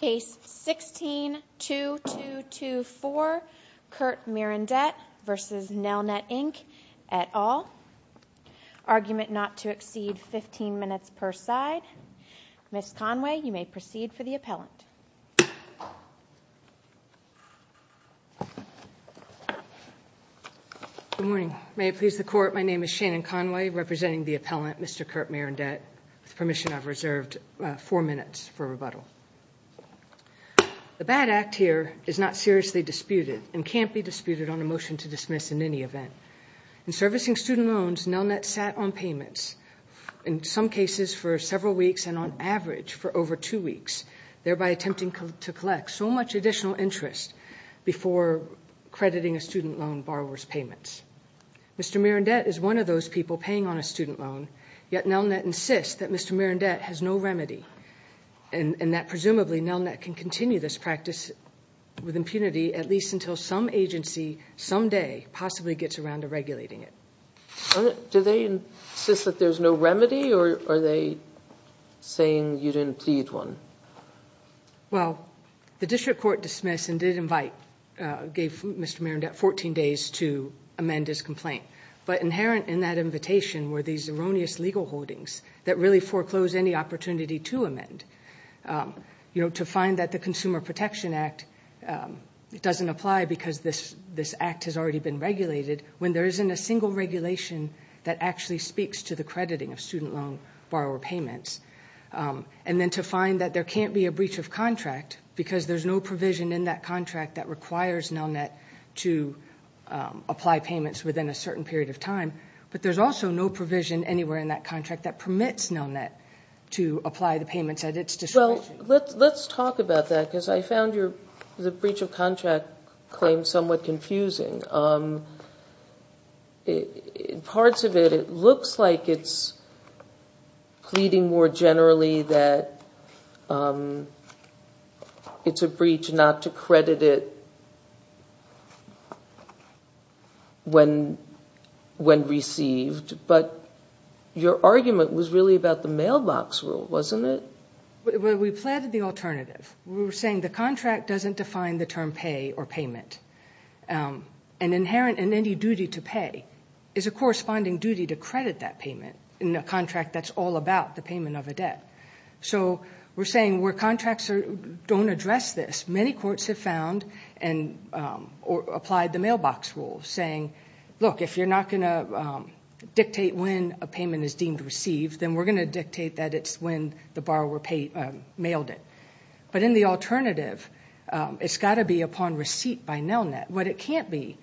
Case 16-2224, Kurt Mirandette v. Nelnet Inc. et al. Argument not to exceed 15 minutes per side. Ms. Conway, you may proceed for the appellant. Good morning. May it please the Court, my name is Shannon Conway, representing the appellant, Mr. Kurt Mirandette. With permission, I've reserved four minutes for rebuttal. The bad act here is not seriously disputed and can't be disputed on a motion to dismiss in any event. In servicing student loans, Nelnet sat on payments, in some cases for several weeks and on average for over two weeks, thereby attempting to collect so much additional interest before crediting a student loan borrower's payments. Mr. Mirandette is one of those people paying on a student loan, yet Nelnet insists that Mr. Mirandette has no remedy and that presumably Nelnet can continue this practice with impunity at least until some agency someday possibly gets around to regulating it. Do they insist that there's no remedy or are they saying you didn't plead one? Well, the district court dismissed and did invite, gave Mr. Mirandette 14 days to amend his complaint. But inherent in that invitation were these erroneous legal holdings that really foreclose any opportunity to amend. You know, to find that the Consumer Protection Act doesn't apply because this act has already been regulated when there isn't a single regulation that actually speaks to the crediting of student loan borrower payments. And then to find that there can't be a breach of contract because there's no provision in that contract that requires Nelnet to apply payments within a certain period of time. But there's also no provision anywhere in that contract that permits Nelnet to apply the payments at its discretion. Well, let's talk about that because I found the breach of contract claim somewhat confusing. In parts of it, it looks like it's pleading more generally that it's a breach not to credit it when received. But your argument was really about the mailbox rule, wasn't it? We planted the alternative. We were saying the contract doesn't define the term pay or payment. And inherent in any duty to pay is a corresponding duty to credit that payment in a contract that's all about the payment of a debt. So we're saying where contracts don't address this, many courts have found or applied the mailbox rule, saying look, if you're not going to dictate when a payment is deemed received, then we're going to dictate that it's when the borrower mailed it. But in the alternative, it's got to be upon receipt by Nelnet. What it can't be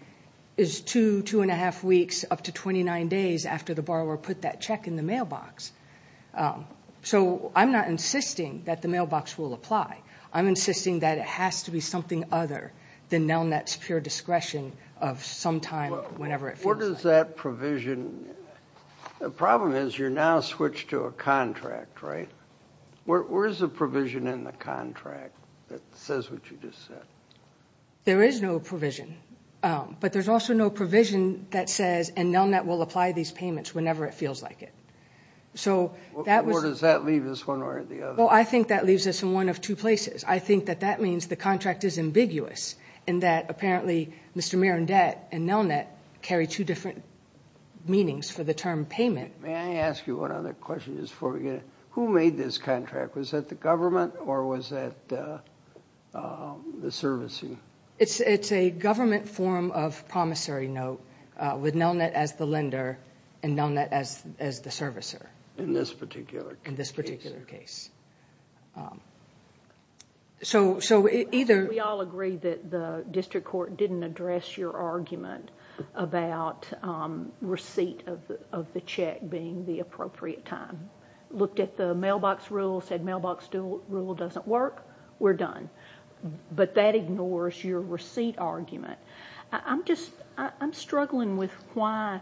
is two, two and a half weeks up to 29 days after the borrower put that check in the mailbox. So I'm not insisting that the mailbox rule apply. I'm insisting that it has to be something other than Nelnet's pure discretion of some time whenever it feels like. The problem is you're now switched to a contract, right? Where is the provision in the contract that says what you just said? There is no provision. But there's also no provision that says, and Nelnet will apply these payments whenever it feels like it. Or does that leave us one way or the other? Well, I think that leaves us in one of two places. I think that that means the contract is ambiguous, and that apparently Mr. Mirandet and Nelnet carry two different meanings for the term payment. May I ask you one other question just before we get in? Who made this contract? Was that the government or was that the servicing? It's a government form of promissory note with Nelnet as the lender and Nelnet as the servicer. In this particular case. We all agree that the district court didn't address your argument about receipt of the check being the appropriate time. Looked at the mailbox rule, said mailbox rule doesn't work, we're done. But that ignores your receipt argument. I'm struggling with why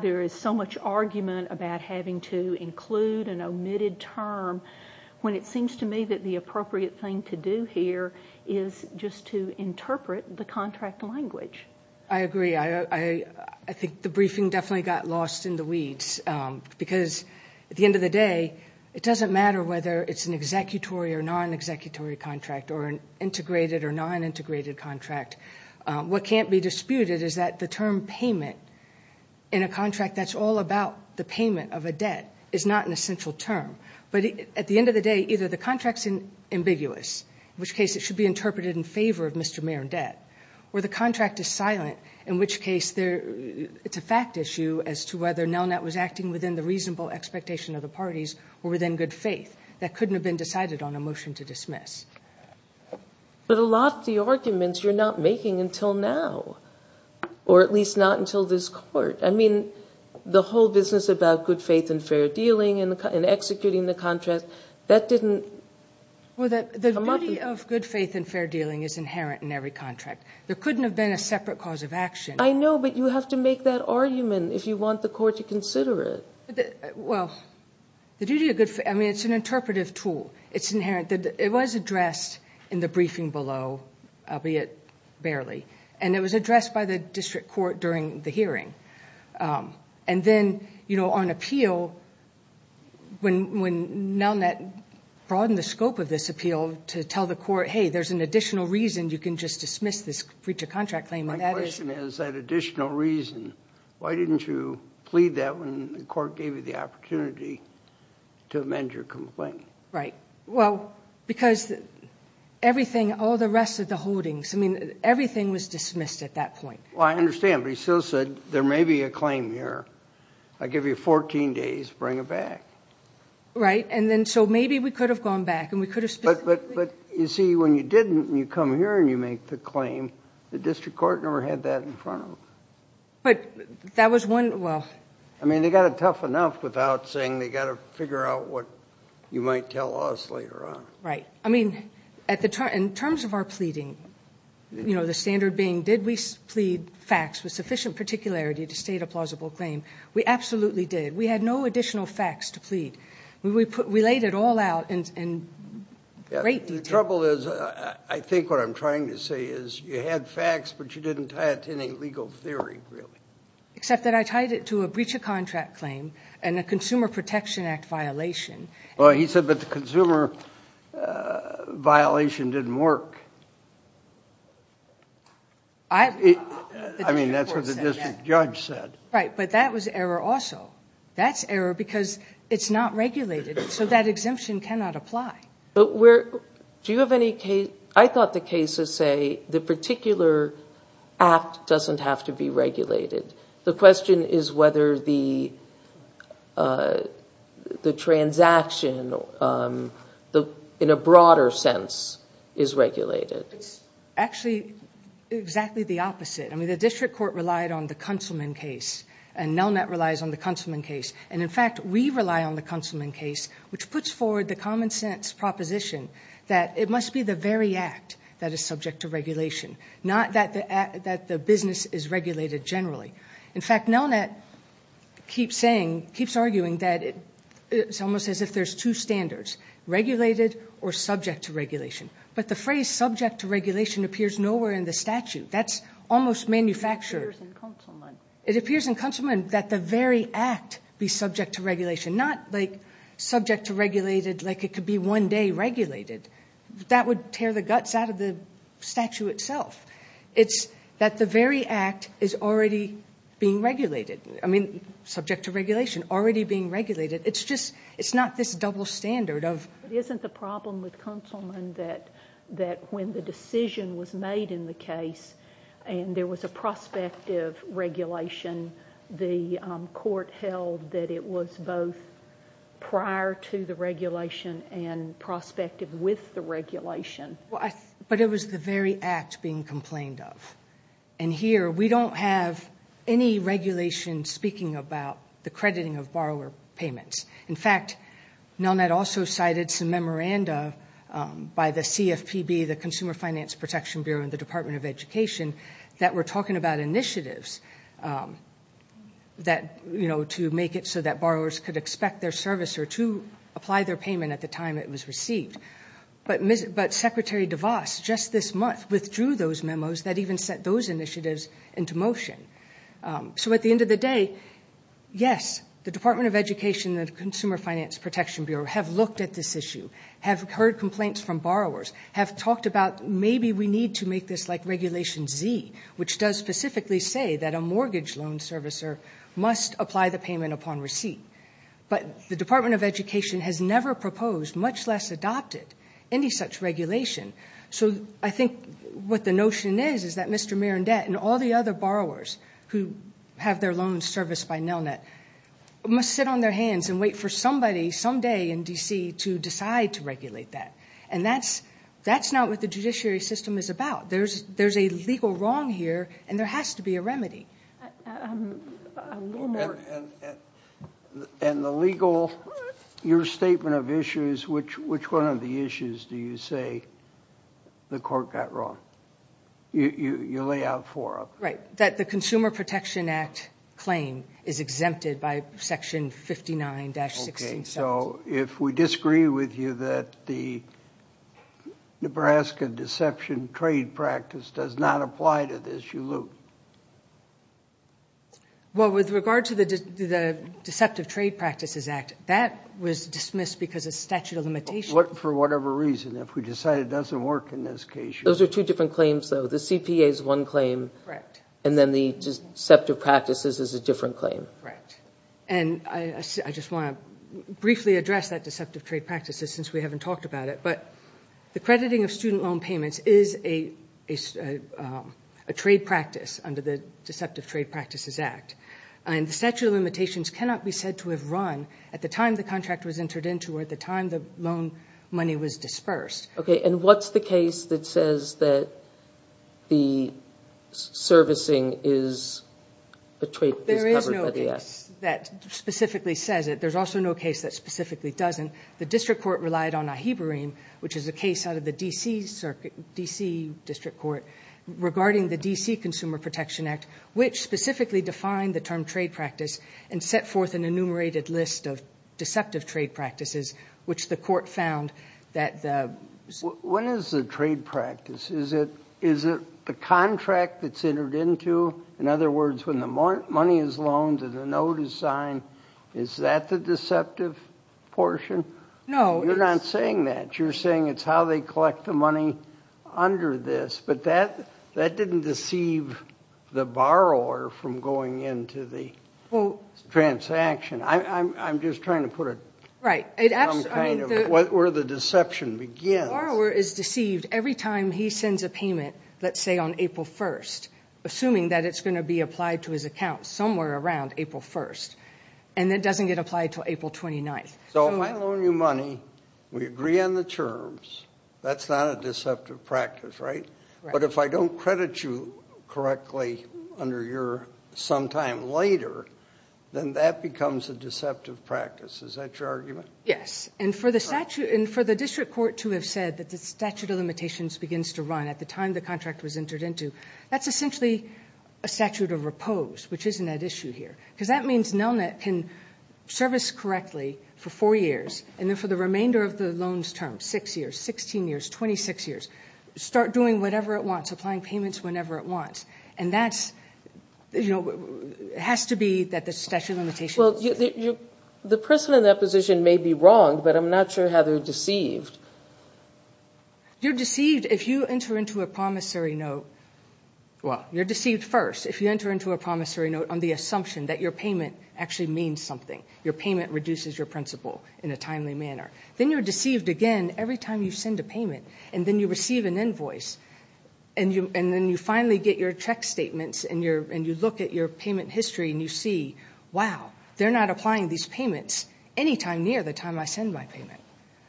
there is so much argument about having to include an omitted term when it seems to me that the appropriate thing to do here is just to interpret the contract language. I agree. I think the briefing definitely got lost in the weeds. Because at the end of the day, it doesn't matter whether it's an executory or non-executory contract or an integrated or non-integrated contract. What can't be disputed is that the term payment in a contract that's all about the payment of a debt is not an essential term. But at the end of the day, either the contract's ambiguous, in which case it should be interpreted in favor of Mr. Mirandet, or the contract is silent, in which case it's a fact issue as to whether Nelnet was acting within the reasonable expectation of the parties or within good faith that couldn't have been decided on a motion to dismiss. But a lot of the arguments you're not making until now, or at least not until this court. I mean, the whole business about good faith and fair dealing and executing the contract, that didn't come up. Well, the duty of good faith and fair dealing is inherent in every contract. There couldn't have been a separate cause of action. I know, but you have to make that argument if you want the court to consider it. Well, the duty of good faith, I mean, it's an interpretive tool. It's inherent. It was addressed in the briefing below, albeit barely. And it was addressed by the district court during the hearing. And then, you know, on appeal, when Nelnet broadened the scope of this appeal to tell the court, hey, there's an additional reason you can just dismiss this breach of contract claim. My question is that additional reason. Why didn't you plead that when the court gave you the opportunity to amend your complaint? Right. Well, because everything, all the rest of the holdings, I mean, everything was dismissed at that point. Well, I understand, but you still said there may be a claim here. I give you 14 days. Bring it back. Right. And then so maybe we could have gone back and we could have specifically. But, you see, when you didn't and you come here and you make the claim, the district court never had that in front of them. But that was one, well. I mean, they got it tough enough without saying they got to figure out what you might tell us later on. Right. I mean, in terms of our pleading, you know, the standard being did we plead facts with sufficient particularity to state a plausible claim? We absolutely did. We had no additional facts to plead. We laid it all out in great detail. The trouble is I think what I'm trying to say is you had facts, but you didn't tie it to any legal theory, really. Except that I tied it to a breach of contract claim and a Consumer Protection Act violation. Well, he said that the consumer violation didn't work. I mean, that's what the district judge said. Right. But that was error also. That's error because it's not regulated. So that exemption cannot apply. Do you have any case? I thought the cases say the particular act doesn't have to be regulated. The question is whether the transaction in a broader sense is regulated. It's actually exactly the opposite. I mean, the district court relied on the Kunselman case, and Nelnet relies on the Kunselman case. And, in fact, we rely on the Kunselman case, which puts forward the common sense proposition that it must be the very act that is subject to regulation, not that the business is regulated generally. In fact, Nelnet keeps arguing that it's almost as if there's two standards, regulated or subject to regulation. But the phrase subject to regulation appears nowhere in the statute. That's almost manufactured. It appears in Kunselman. It appears in Kunselman that the very act be subject to regulation, not like subject to regulated like it could be one day regulated. That would tear the guts out of the statute itself. It's that the very act is already being regulated. I mean, subject to regulation, already being regulated. It's just it's not this double standard of. Isn't the problem with Kunselman that when the decision was made in the case and there was a prospective regulation, the court held that it was both prior to the regulation and prospective with the regulation. But it was the very act being complained of. And here we don't have any regulation speaking about the crediting of borrower payments. In fact, Nelnet also cited some memoranda by the CFPB, the Consumer Finance Protection Bureau, and the Department of Education that were talking about initiatives that, you know, to make it so that borrowers could expect their servicer to apply their payment at the time it was received. But Secretary DeVos just this month withdrew those memos that even set those initiatives into motion. So at the end of the day, yes, the Department of Education and the Consumer Finance Protection Bureau have looked at this issue, have heard complaints from borrowers, have talked about maybe we need to make this like Regulation Z, which does specifically say that a mortgage loan servicer must apply the payment upon receipt. But the Department of Education has never proposed, much less adopted, any such regulation. So I think what the notion is is that Mr. Mirandet and all the other borrowers who have their loans serviced by Nelnet must sit on their hands and wait for somebody someday in D.C. to decide to regulate that. And that's not what the judiciary system is about. There's a legal wrong here, and there has to be a remedy. And the legal, your statement of issues, which one of the issues do you say the court got wrong? You lay out four of them. Right, that the Consumer Protection Act claim is exempted by Section 59-16. Okay, so if we disagree with you that the Nebraska Deception Trade Practice does not apply to this, you lose. Well, with regard to the Deceptive Trade Practices Act, that was dismissed because of statute of limitations. For whatever reason, if we decide it doesn't work in this case, you lose. Those are two different claims, though. The CPA is one claim. Correct. And then the Deceptive Practices is a different claim. Correct. And I just want to briefly address that Deceptive Trade Practices since we haven't talked about it. But the crediting of student loan payments is a trade practice under the Deceptive Trade Practices Act. And the statute of limitations cannot be said to have run at the time the contract was entered into or at the time the loan money was dispersed. Okay, and what's the case that says that the servicing is covered by the act? There is no case that specifically says it. There's also no case that specifically doesn't. The district court relied on AHIBARINE, which is a case out of the D.C. District Court, regarding the D.C. Consumer Protection Act, which specifically defined the term trade practice and set forth an enumerated list of deceptive trade practices, which the court found that the – When is the trade practice? Is it the contract that's entered into? In other words, when the money is loaned and the note is signed, is that the deceptive portion? No. You're not saying that. You're saying it's how they collect the money under this. But that didn't deceive the borrower from going into the transaction. I'm just trying to put a – Right. Where the deception begins. The borrower is deceived every time he sends a payment, let's say on April 1st, assuming that it's going to be applied to his account somewhere around April 1st, and it doesn't get applied until April 29th. So if I loan you money, we agree on the terms, that's not a deceptive practice, right? But if I don't credit you correctly under your sometime later, then that becomes a deceptive practice. Is that your argument? Yes. And for the district court to have said that the statute of limitations begins to run at the time the contract was entered into, that's essentially a statute of repose, which isn't at issue here. Because that means NELNET can service correctly for four years, and then for the remainder of the loans term, six years, 16 years, 26 years, start doing whatever it wants, applying payments whenever it wants. And that's – it has to be that the statute of limitations – Well, the person in that position may be wrong, but I'm not sure how they're deceived. You're deceived if you enter into a promissory note – well, you're deceived first, if you enter into a promissory note on the assumption that your payment actually means something, your payment reduces your principal in a timely manner. Then you're deceived again every time you send a payment, and then you receive an invoice, and then you finally get your check statements and you look at your payment history and you see, wow, they're not applying these payments any time near the time I send my payment.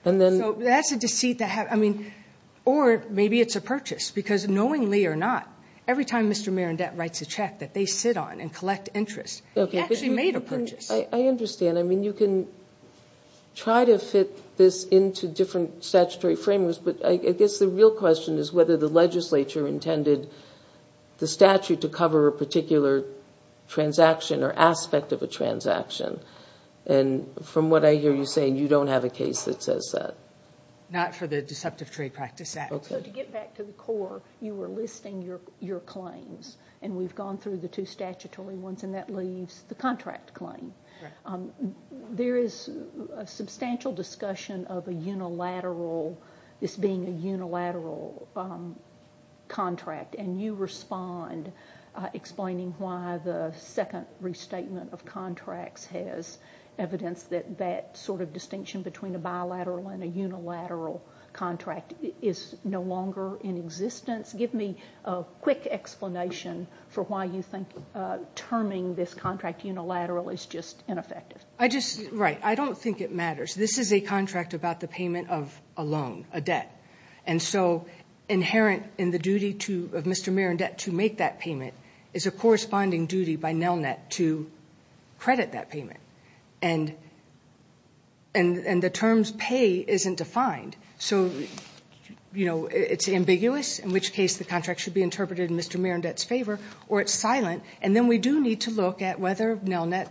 So that's a deceit that – I mean, or maybe it's a purchase, because knowingly or not, every time Mr. Marendette writes a check that they sit on and collect interest, he actually made a purchase. I understand. I mean, you can try to fit this into different statutory frameworks, but I guess the real question is whether the legislature intended the statute to cover a particular transaction or aspect of a transaction. And from what I hear you saying, you don't have a case that says that. Not for the Deceptive Trade Practice Act. So to get back to the core, you were listing your claims, and we've gone through the two statutory ones, and that leaves the contract claim. There is a substantial discussion of a unilateral – this being a unilateral contract, and you respond explaining why the second restatement of contracts has evidence that that sort of distinction between a bilateral and a unilateral contract is no longer in existence. Give me a quick explanation for why you think terming this contract unilateral is just ineffective. I just – right. I don't think it matters. This is a contract about the payment of a loan, a debt. And so inherent in the duty of Mr. Marendette to make that payment is a corresponding duty by NELNET to credit that payment. And the terms pay isn't defined. So, you know, it's ambiguous, in which case the contract should be interpreted in Mr. Marendette's favor, or it's silent, and then we do need to look at whether NELNET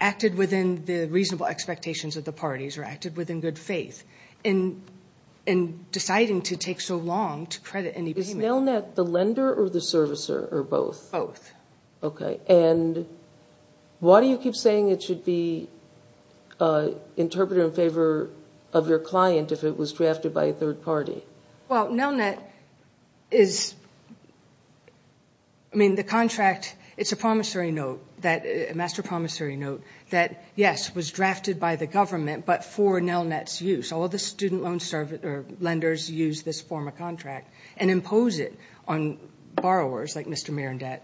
acted within the reasonable expectations of the parties or acted within good faith in deciding to take so long to credit any payment. Is NELNET the lender or the servicer or both? Both. Okay. And why do you keep saying it should be interpreted in favor of your client if it was drafted by a third party? Well, NELNET is – I mean, the contract, it's a promissory note, a master promissory note that, yes, was drafted by the government but for NELNET's use. All the student loan lenders use this form of contract and impose it on borrowers like Mr. Marendette.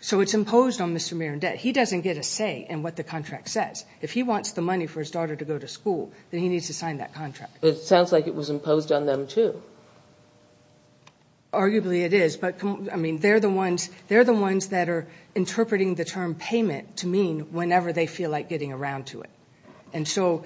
So it's imposed on Mr. Marendette. He doesn't get a say in what the contract says. If he wants the money for his daughter to go to school, then he needs to sign that contract. But it sounds like it was imposed on them, too. Arguably it is. But, I mean, they're the ones that are interpreting the term payment to mean whenever they feel like getting around to it. And so,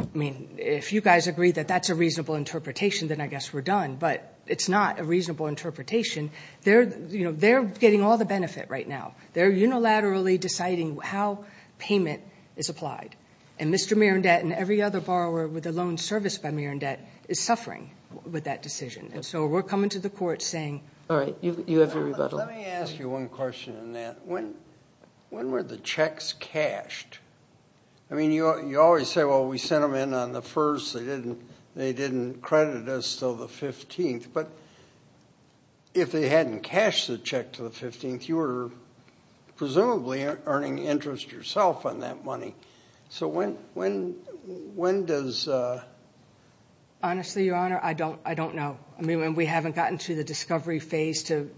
I mean, if you guys agree that that's a reasonable interpretation, then I guess we're done. But it's not a reasonable interpretation. They're getting all the benefit right now. They're unilaterally deciding how payment is applied. And Mr. Marendette and every other borrower with a loan serviced by Marendette is suffering with that decision. And so we're coming to the court saying. All right. You have your rebuttal. Let me ask you one question on that. When were the checks cashed? I mean, you always say, well, we sent them in on the 1st. They didn't credit us until the 15th. But if they hadn't cashed the check to the 15th, you were presumably earning interest yourself on that money. So when does? Honestly, Your Honor, I don't know. I mean, we haven't gotten to the discovery phase to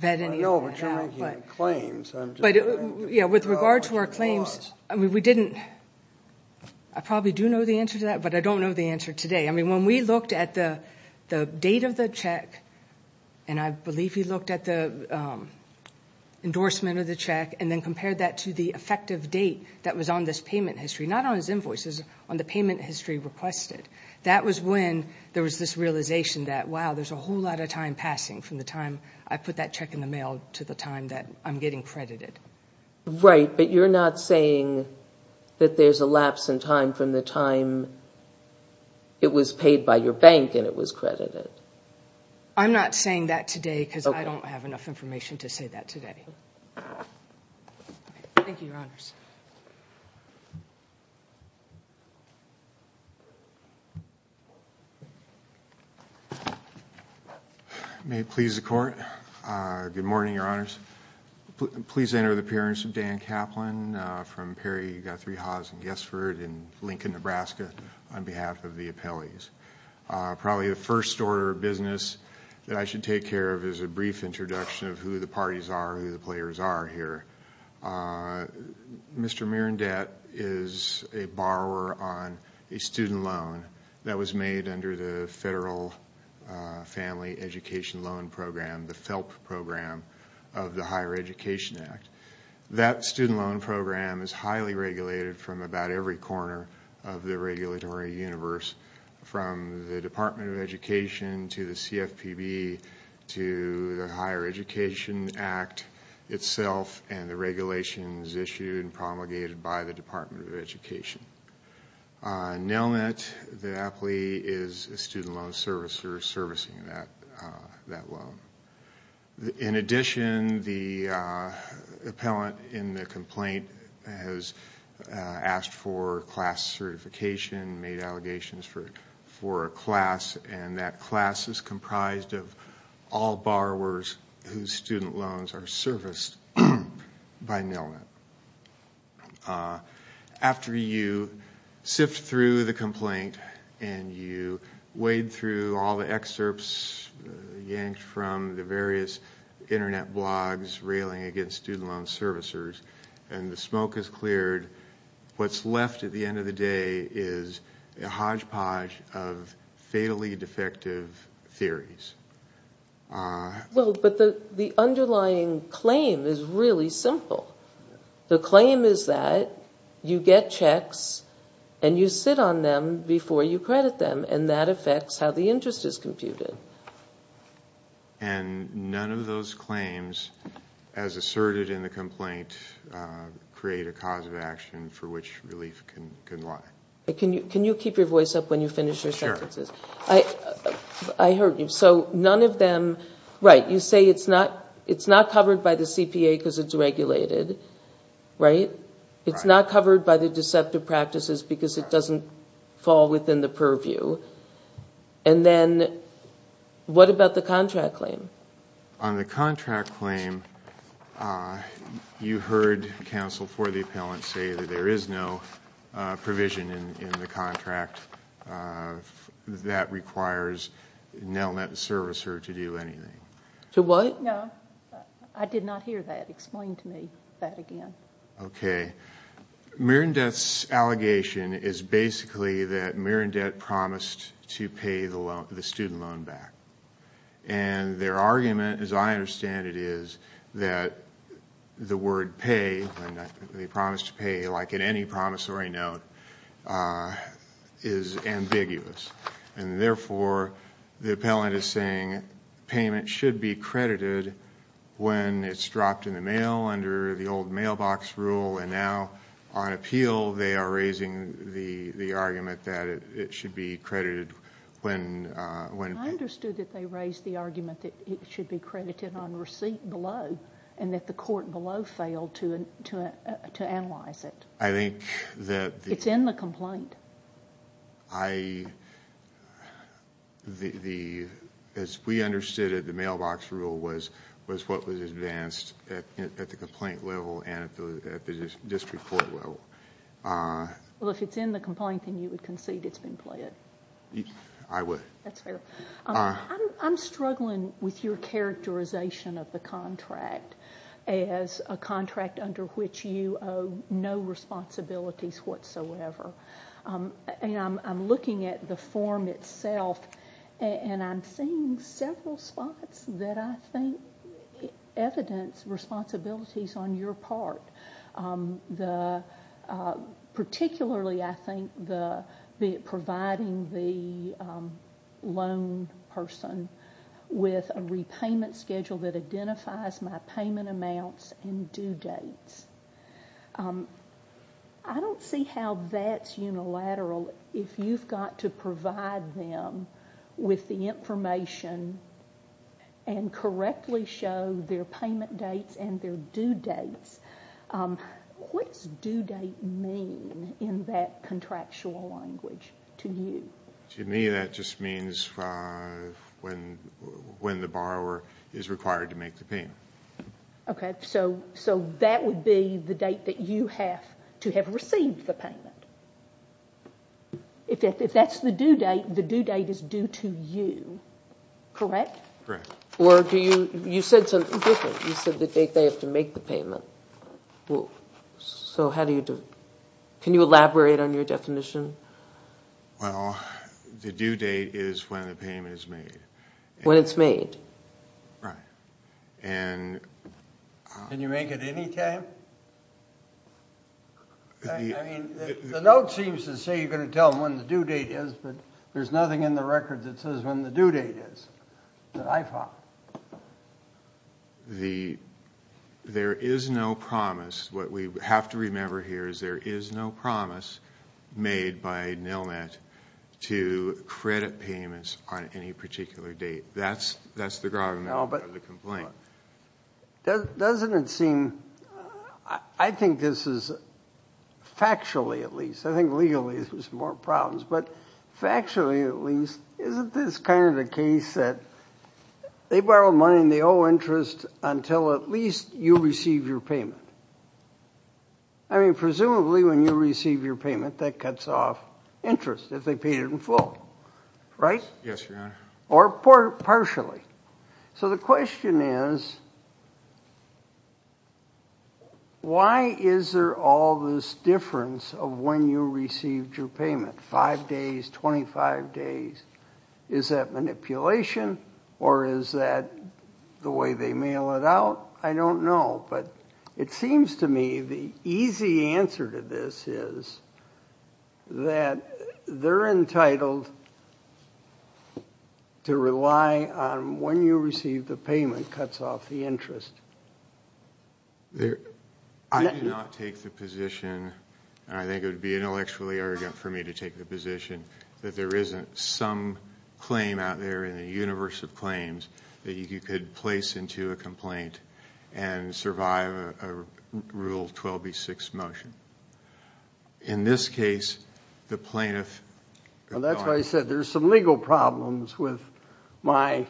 vet anything. I know, but you're making claims. But, yeah, with regard to our claims, I mean, we didn't. I probably do know the answer to that, but I don't know the answer today. I mean, when we looked at the date of the check, and I believe he looked at the endorsement of the check and then compared that to the effective date that was on this payment history, not on his invoices, on the payment history requested, that was when there was this realization that, wow, there's a whole lot of time passing from the time I put that check in the mail to the time that I'm getting credited. Right, but you're not saying that there's a lapse in time from the time it was paid by your bank and it was credited. I'm not saying that today because I don't have enough information to say that today. Thank you, Your Honors. May it please the Court. Good morning, Your Honors. Please enter the appearance of Dan Kaplan from Perry, Guthrie, Haas, and Guestford in Lincoln, Nebraska, on behalf of the appellees. Probably the first order of business that I should take care of is a brief introduction of who the parties are, who the players are here. Mr. Mirandet is a borrower on a student loan that was made under the Federal Family Education Loan Program, the FELP program of the Higher Education Act. That student loan program is highly regulated from about every corner of the regulatory universe, from the Department of Education to the CFPB to the Higher Education Act itself, and the regulation is issued and promulgated by the Department of Education. Nelnet, the appellee, is a student loan servicer servicing that loan. In addition, the appellant in the complaint has asked for class certification, made allegations for a class, and that class is comprised of all borrowers whose student loans are serviced by Nelnet. After you sift through the complaint and you wade through all the excerpts yanked from the various internet blogs railing against student loan servicers and the smoke has cleared, what's left at the end of the day is a hodgepodge of fatally defective theories. Well, but the underlying claim is really simple. The claim is that you get checks and you sit on them before you credit them, and that affects how the interest is computed. And none of those claims, as asserted in the complaint, create a cause of action for which relief can lie. Can you keep your voice up when you finish your sentences? Sure. I heard you. So none of them, right, you say it's not covered by the CPA because it's regulated, right? It's not covered by the deceptive practices because it doesn't fall within the purview. And then what about the contract claim? On the contract claim, you heard counsel for the appellant say that there is no provision in the contract that requires an internet servicer to do anything. To what? No, I did not hear that. Explain to me that again. Okay. Mirandet's allegation is basically that Mirandet promised to pay the student loan back. And their argument, as I understand it, is that the word pay, when they promise to pay, like in any promissory note, is ambiguous. And therefore, the appellant is saying payment should be credited when it's dropped in the mail under the old mailbox rule. And now on appeal, they are raising the argument that it should be credited when paid. I understood that they raised the argument that it should be credited on receipt below and that the court below failed to analyze it. I think that the... It's in the complaint. As we understood it, the mailbox rule was what was advanced at the complaint level and at the district court level. Well, if it's in the complaint, then you would concede it's been pled. I would. That's fair. I'm struggling with your characterization of the contract as a contract under which you owe no responsibilities whatsoever. I'm looking at the form itself, and I'm seeing several spots that I think evidence responsibilities on your part, particularly, I think, providing the loan person with a repayment schedule that identifies my payment amounts and due dates. I don't see how that's unilateral. If you've got to provide them with the information and correctly show their payment dates and their due dates, what does due date mean in that contractual language to you? To me, that just means when the borrower is required to make the payment. Okay, so that would be the date that you have to have received the payment. If that's the due date, the due date is due to you, correct? Correct. Or do you... you said something different. You said the date they have to make the payment. So how do you... can you elaborate on your definition? Well, the due date is when the payment is made. When it's made. Right. And... Can you make it any time? I mean, the note seems to say you're going to tell them when the due date is, but there's nothing in the record that says when the due date is that I found. The... there is no promise. What we have to remember here is there is no promise made by NILMAT to credit payments on any particular date. That's the ground... No, but...... of the complaint. Doesn't it seem... I think this is factually, at least. I think legally there's more problems. But factually, at least, isn't this kind of the case that they borrow money and they owe interest until at least you receive your payment? I mean, presumably when you receive your payment, that cuts off interest if they paid it in full, right? Yes, Your Honor. Or partially. So the question is, why is there all this difference of when you received your payment, five days, 25 days? Is that manipulation or is that the way they mail it out? I don't know. But it seems to me the easy answer to this is that they're entitled to rely on when you receive the payment cuts off the interest. I do not take the position, and I think it would be intellectually arrogant for me to take the position, that there isn't some claim out there in the universe of claims that you could place into a complaint and survive a Rule 12b-6 motion. In this case, the plaintiff... Well, that's why I said there's some legal problems with my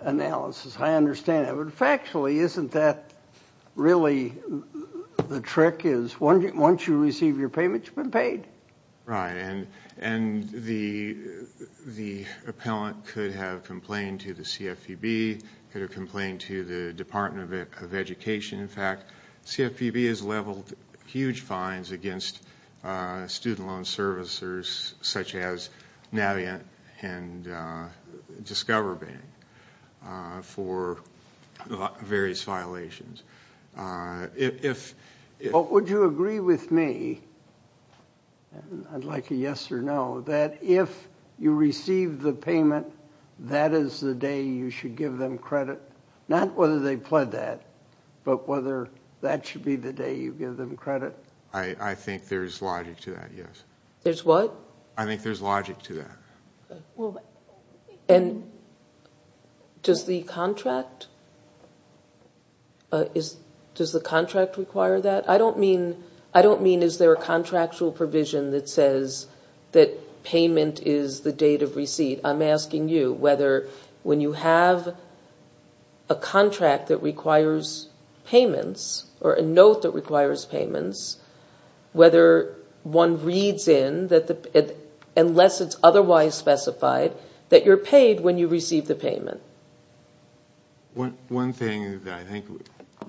analysis. I understand it. But factually, isn't that really the trick is once you receive your payment, you've been paid? Right. And the appellant could have complained to the CFPB, could have complained to the Department of Education. In fact, CFPB has leveled huge fines against student loan servicers such as Navient and Discover Bank for various violations. Would you agree with me, and I'd like a yes or no, that if you receive the payment, that is the day you should give them credit? Not whether they pled that, but whether that should be the day you give them credit? I think there's logic to that, yes. There's what? I think there's logic to that. And does the contract require that? I don't mean is there a contractual provision that says that payment is the date of receipt. I'm asking you whether when you have a contract that requires payments or a note that requires payments, whether one reads in, unless it's otherwise specified, that you're paid when you receive the payment. One thing that I think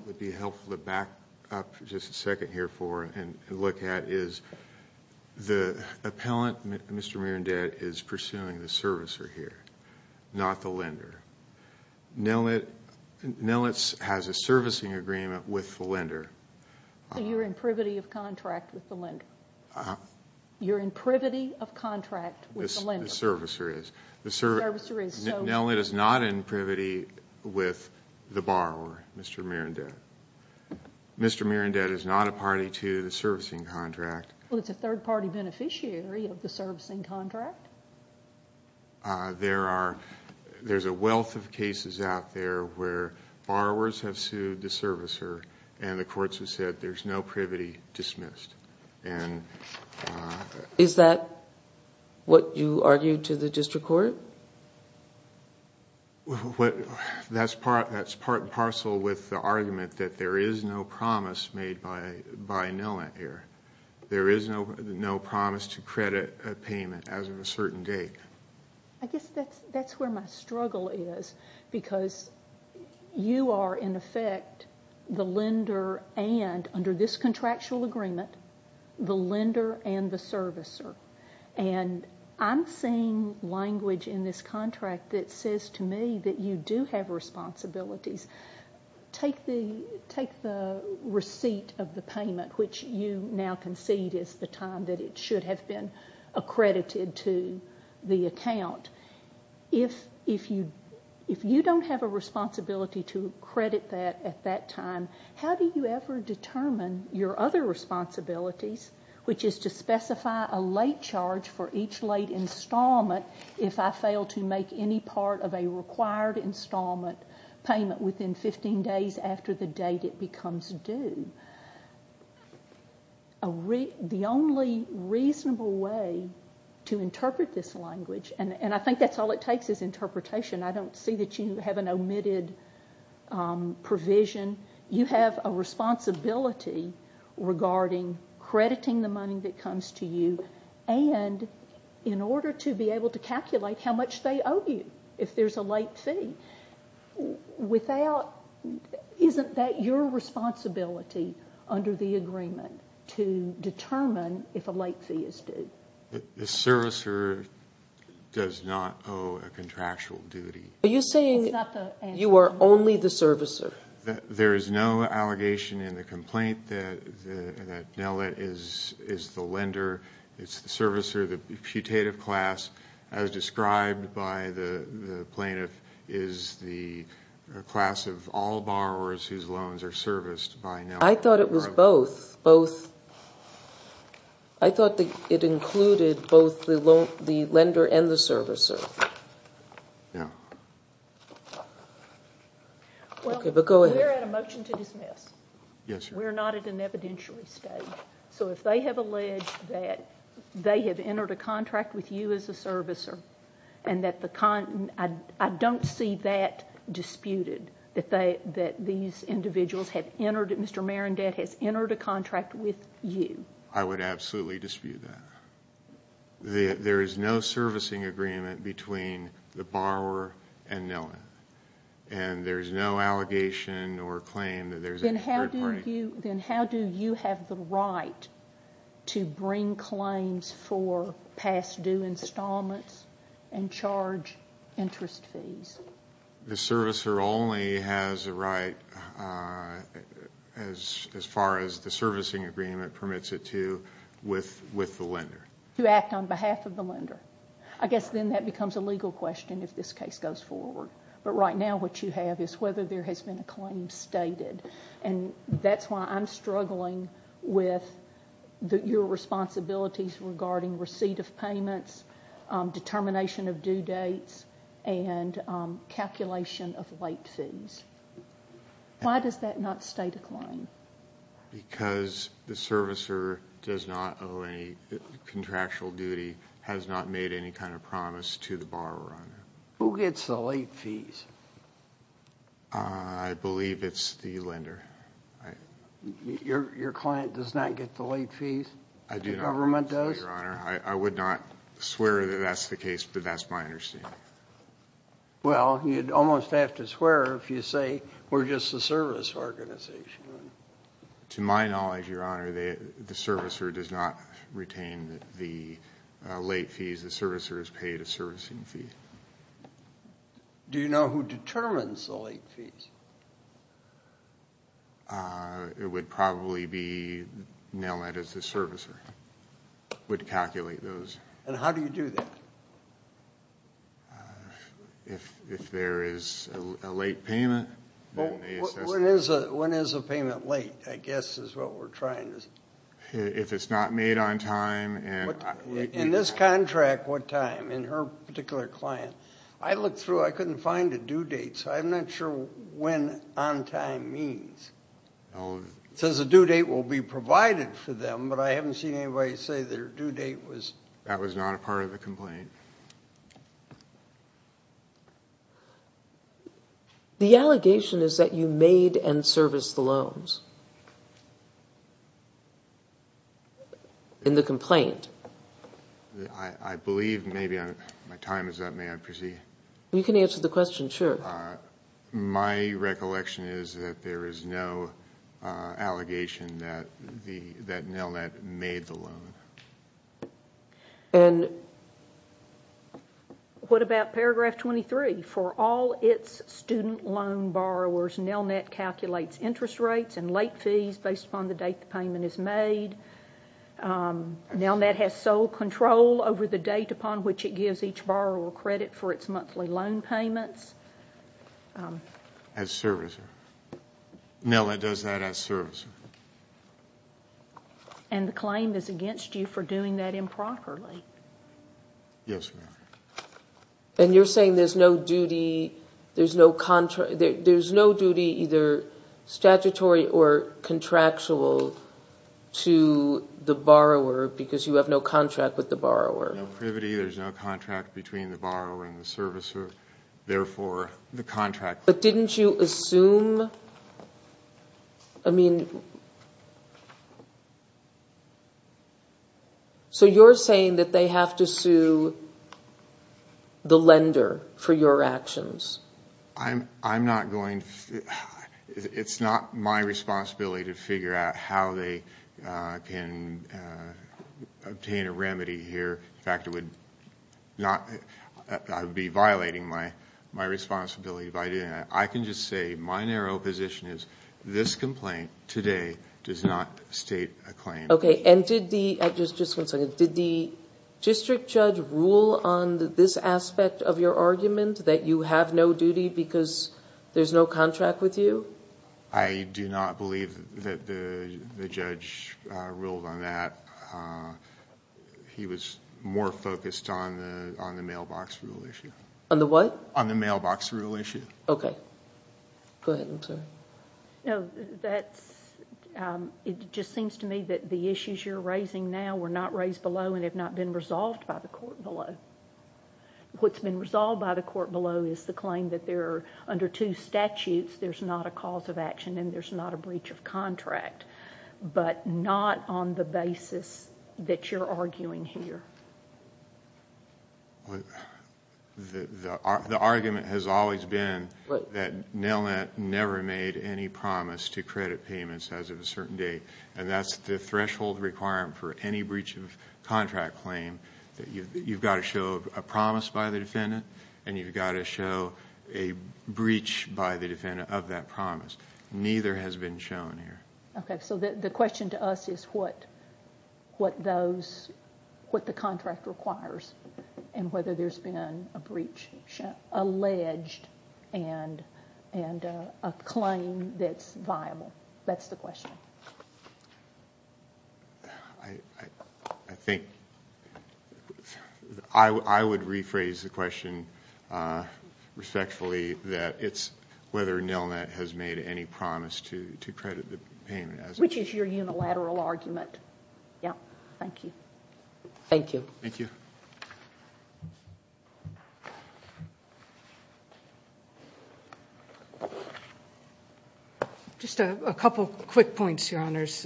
would be helpful to back up just a second here for and look at is the appellant, Mr. Mierendet, is pursuing the servicer here, not the lender. Nellett has a servicing agreement with the lender. So you're in privity of contract with the lender? Uh-huh. You're in privity of contract with the lender? The servicer is. The servicer is. Nellett is not in privity with the borrower, Mr. Mierendet. Mr. Mierendet is not a party to the servicing contract. Well, it's a third-party beneficiary of the servicing contract. There's a wealth of cases out there where borrowers have sued the servicer and the courts have said there's no privity dismissed. Is that what you argued to the district court? That's part and parcel with the argument that there is no promise made by Nellett here. There is no promise to credit a payment as of a certain date. I guess that's where my struggle is because you are, in effect, the lender and, under this contractual agreement, the lender and the servicer. And I'm seeing language in this contract that says to me that you do have responsibilities. Take the receipt of the payment, which you now concede is the time that it should have been accredited to the account. If you don't have a responsibility to credit that at that time, how do you ever determine your other responsibilities, which is to specify a late charge for each late installment if I fail to make any part of a required installment payment within 15 days after the date it becomes due? The only reasonable way to interpret this language, and I think that's all it takes is interpretation. I don't see that you have an omitted provision. You have a responsibility regarding crediting the money that comes to you, and in order to be able to calculate how much they owe you if there's a late fee, isn't that your responsibility under the agreement to determine if a late fee is due? The servicer does not owe a contractual duty. Are you saying you are only the servicer? There is no allegation in the complaint that Nellett is the lender. It's the servicer, the putative class, as described by the plaintiff, is the class of all borrowers whose loans are serviced by Nellett. I thought it was both. I thought it included both the lender and the servicer. We're at a motion to dismiss. We're not at an evidentiary stage, so if they have alleged that they have entered a contract with you as a servicer I don't see that disputed, that these individuals have entered a contract with you. I would absolutely dispute that. There is no servicing agreement between the borrower and Nellett, and there's no allegation or claim that there's any third party. Then how do you have the right to bring claims for past due installments and charge interest fees? The servicer only has a right, as far as the servicing agreement permits it to, with the lender. To act on behalf of the lender. I guess then that becomes a legal question if this case goes forward. But right now what you have is whether there has been a claim stated, and that's why I'm struggling with your responsibilities regarding receipt of payments, determination of due dates, and calculation of late fees. Why does that not stay the claim? Because the servicer does not owe any contractual duty, has not made any kind of promise to the borrower. Who gets the late fees? I believe it's the lender. Your client does not get the late fees? The government does? I would not swear that that's the case, but that's my understanding. Well, you'd almost have to swear if you say, we're just a service organization. To my knowledge, Your Honor, the servicer does not retain the late fees. The servicer is paid a servicing fee. Do you know who determines the late fees? It would probably be Nelnet as the servicer, would calculate those. And how do you do that? If there is a late payment, then they assess it. When is a payment late, I guess, is what we're trying to say. If it's not made on time. In this contract, what time? In her particular client. I looked through, I couldn't find a due date, so I'm not sure when on time means. It says a due date will be provided for them, but I haven't seen anybody say their due date was. That was not a part of the complaint. The allegation is that you made and serviced the loans. In the complaint. I believe maybe my time is up, may I proceed? You can answer the question, sure. My recollection is that there is no allegation that Nelnet made the loan. What about paragraph 23? For all its student loan borrowers, Nelnet calculates interest rates and loans. It calculates fees based upon the date the payment is made. Nelnet has sole control over the date upon which it gives each borrower credit for its monthly loan payments. As servicer. Nelnet does that as servicer. The claim is against you for doing that improperly. Yes, ma'am. You're saying there's no duty, there's no duty either statutory or contractual to the borrower because you have no contract with the borrower. No privity, there's no contract between the borrower and the servicer, therefore the contract. But didn't you assume, I mean... So you're saying that they have to sue the lender for your actions. I'm not going to... It's not my responsibility to figure out how they can obtain a remedy here. In fact, I would be violating my responsibility by doing that. I can just say my narrow position is this complaint today does not state a claim. Okay. Just one second. Did the district judge rule on this aspect of your argument that you have no duty because there's no contract with you? I do not believe that the judge ruled on that. He was more focused on the mailbox rule issue. On the what? On the mailbox rule issue. Okay. Go ahead, I'm sorry. No, that's... It just seems to me that the issues you're raising now were not raised below and have not been resolved by the court below. What's been resolved by the court below is the claim that under two statutes there's not a cause of action and there's not a breach of contract, but not on the basis that you're arguing here. The argument has always been that NailNet never made any promise to credit payments as of a certain date, and that's the threshold requirement for any breach of contract claim. You've got to show a promise by the defendant and you've got to show a breach by the defendant of that promise. Neither has been shown here. Okay. So the question to us is what the contract requires and whether there's been a breach alleged and a claim that's viable. That's the question. I think I would rephrase the question respectfully, that it's whether NailNet has made any promise to credit the payment. Which is your unilateral argument. Yeah. Thank you. Thank you. Thank you. Just a couple quick points, Your Honors.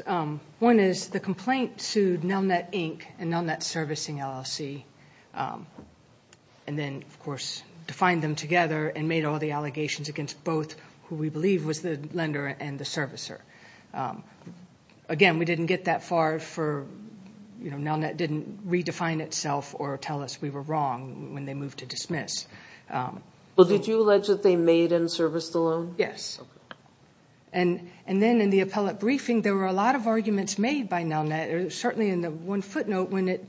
One is the complaint sued NailNet Inc. and NailNet Servicing LLC and then, of course, defined them together and made all the allegations against both who we believe was the lender and the servicer. Again, we didn't get that far for NailNet didn't redefine itself or tell us we were wrong when they moved to dismiss. Did you allege that they made and serviced the loan? Yes. And then in the appellate briefing, there were a lot of arguments made by NailNet, certainly in the one footnote when it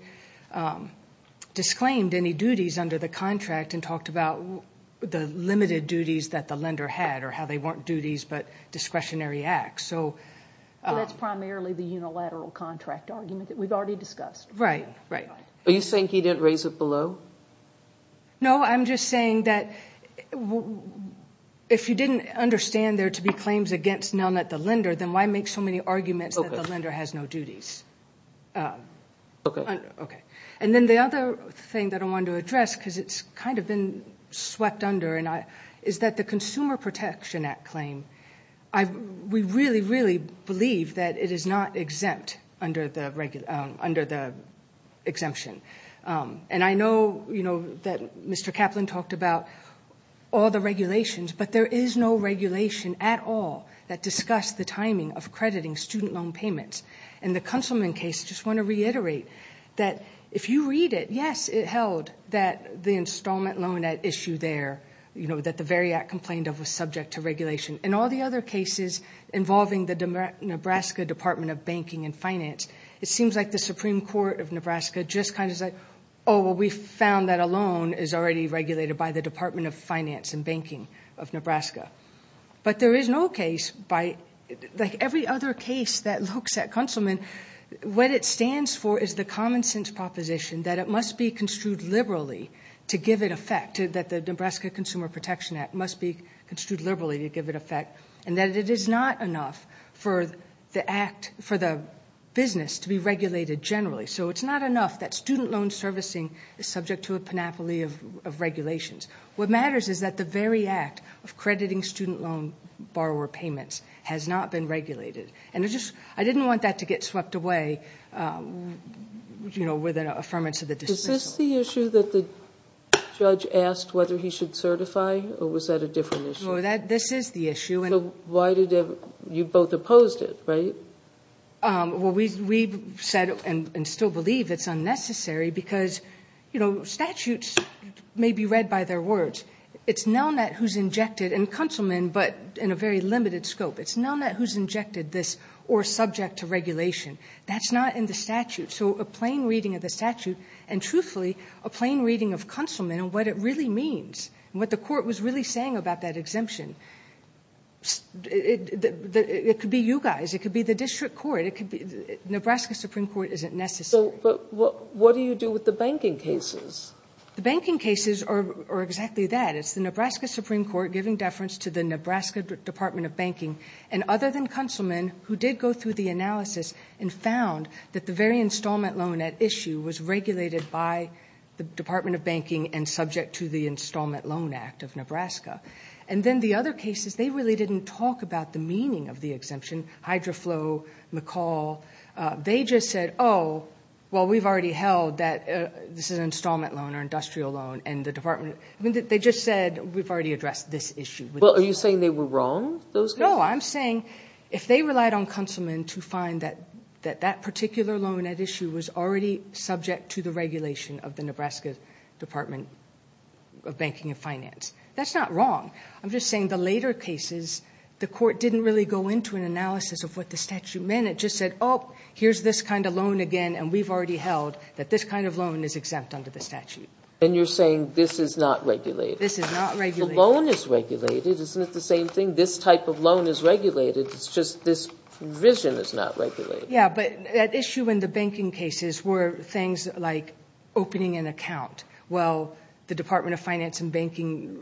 disclaimed any duties under the contract and talked about the limited duties that the lender had or how they weren't duties but discretionary acts. That's primarily the unilateral contract argument that we've already discussed. Right, right. Are you saying he didn't raise it below? No, I'm just saying that if you didn't understand there to be claims against NailNet the lender, then why make so many arguments that the lender has no duties? Okay. Okay. And then the other thing that I wanted to address because it's kind of been swept under is that the Consumer Protection Act claim, we really, really believe that it is not exempt under the exemption. And I know that Mr. Kaplan talked about all the regulations, but there is no regulation at all that discussed the timing of crediting student loan payments. In the Kunselman case, I just want to reiterate that if you read it, yes, it held that the installment loan at issue there, you know, that the very act complained of was subject to regulation. In all the other cases involving the Nebraska Department of Banking and Finance, it seems like the Supreme Court of Nebraska just kind of said, oh, well, we found that a loan is already regulated by the Department of Finance and Banking of Nebraska. But there is no case by, like every other case that looks at Kunselman, what it stands for is the common sense proposition that it must be construed liberally to give it effect, that the Nebraska Consumer Protection Act must be construed liberally to give it effect, and that it is not enough for the business to be regulated generally. So it is not enough that student loan servicing is subject to a panoply of regulations. What matters is that the very act of crediting student loan borrower payments has not been regulated. And I didn't want that to get swept away, you know, with an affirmance of the dismissal. Is this the issue that the judge asked whether he should certify, or was that a different issue? Well, this is the issue. So you both opposed it, right? Well, we've said and still believe it's unnecessary because, you know, statutes may be read by their words. It's Nelnet who's injected, and Kunselman, but in a very limited scope. It's Nelnet who's injected this, or subject to regulation. That's not in the statute. So a plain reading of the statute, and truthfully, a plain reading of Kunselman and what it really means, and what the court was really saying about that exemption, it could be you guys. It could be the district court. It could be Nebraska Supreme Court isn't necessary. But what do you do with the banking cases? The banking cases are exactly that. It's the Nebraska Supreme Court giving deference to the Nebraska Department of Banking, and other than Kunselman, who did go through the analysis and found that the very installment loan at issue was regulated by the Department of Banking and subject to the Installment Loan Act of Nebraska. And then the other cases, they really didn't talk about the meaning of the exemption, Hydroflow, McCall. They just said, oh, well, we've already held that this is an installment loan or industrial loan, and the department. I mean, they just said we've already addressed this issue. Well, are you saying they were wrong, those guys? No, I'm saying if they relied on Kunselman to find that that particular loan at issue was already subject to the regulation of the Nebraska Department of Banking and Finance, that's not wrong. I'm just saying the later cases, the court didn't really go into an analysis of what the statute meant. It just said, oh, here's this kind of loan again, and we've already held that this kind of loan is exempt under the statute. And you're saying this is not regulated. This is not regulated. The loan is regulated. Isn't it the same thing? This type of loan is regulated. It's just this provision is not regulated. Yeah, but that issue in the banking cases were things like opening an account. Well, the Department of Finance and Banking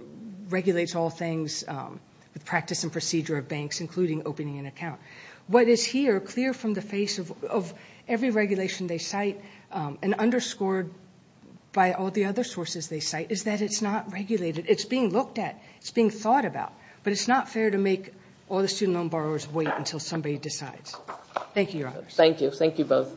regulates all things with practice and procedure of banks, including opening an account. What is here clear from the face of every regulation they cite and underscored by all the other sources they cite is that it's not regulated. It's being looked at. It's being thought about. But it's not fair to make all the student loan borrowers wait until somebody decides. Thank you, Your Honors. Thank you. Thank you both.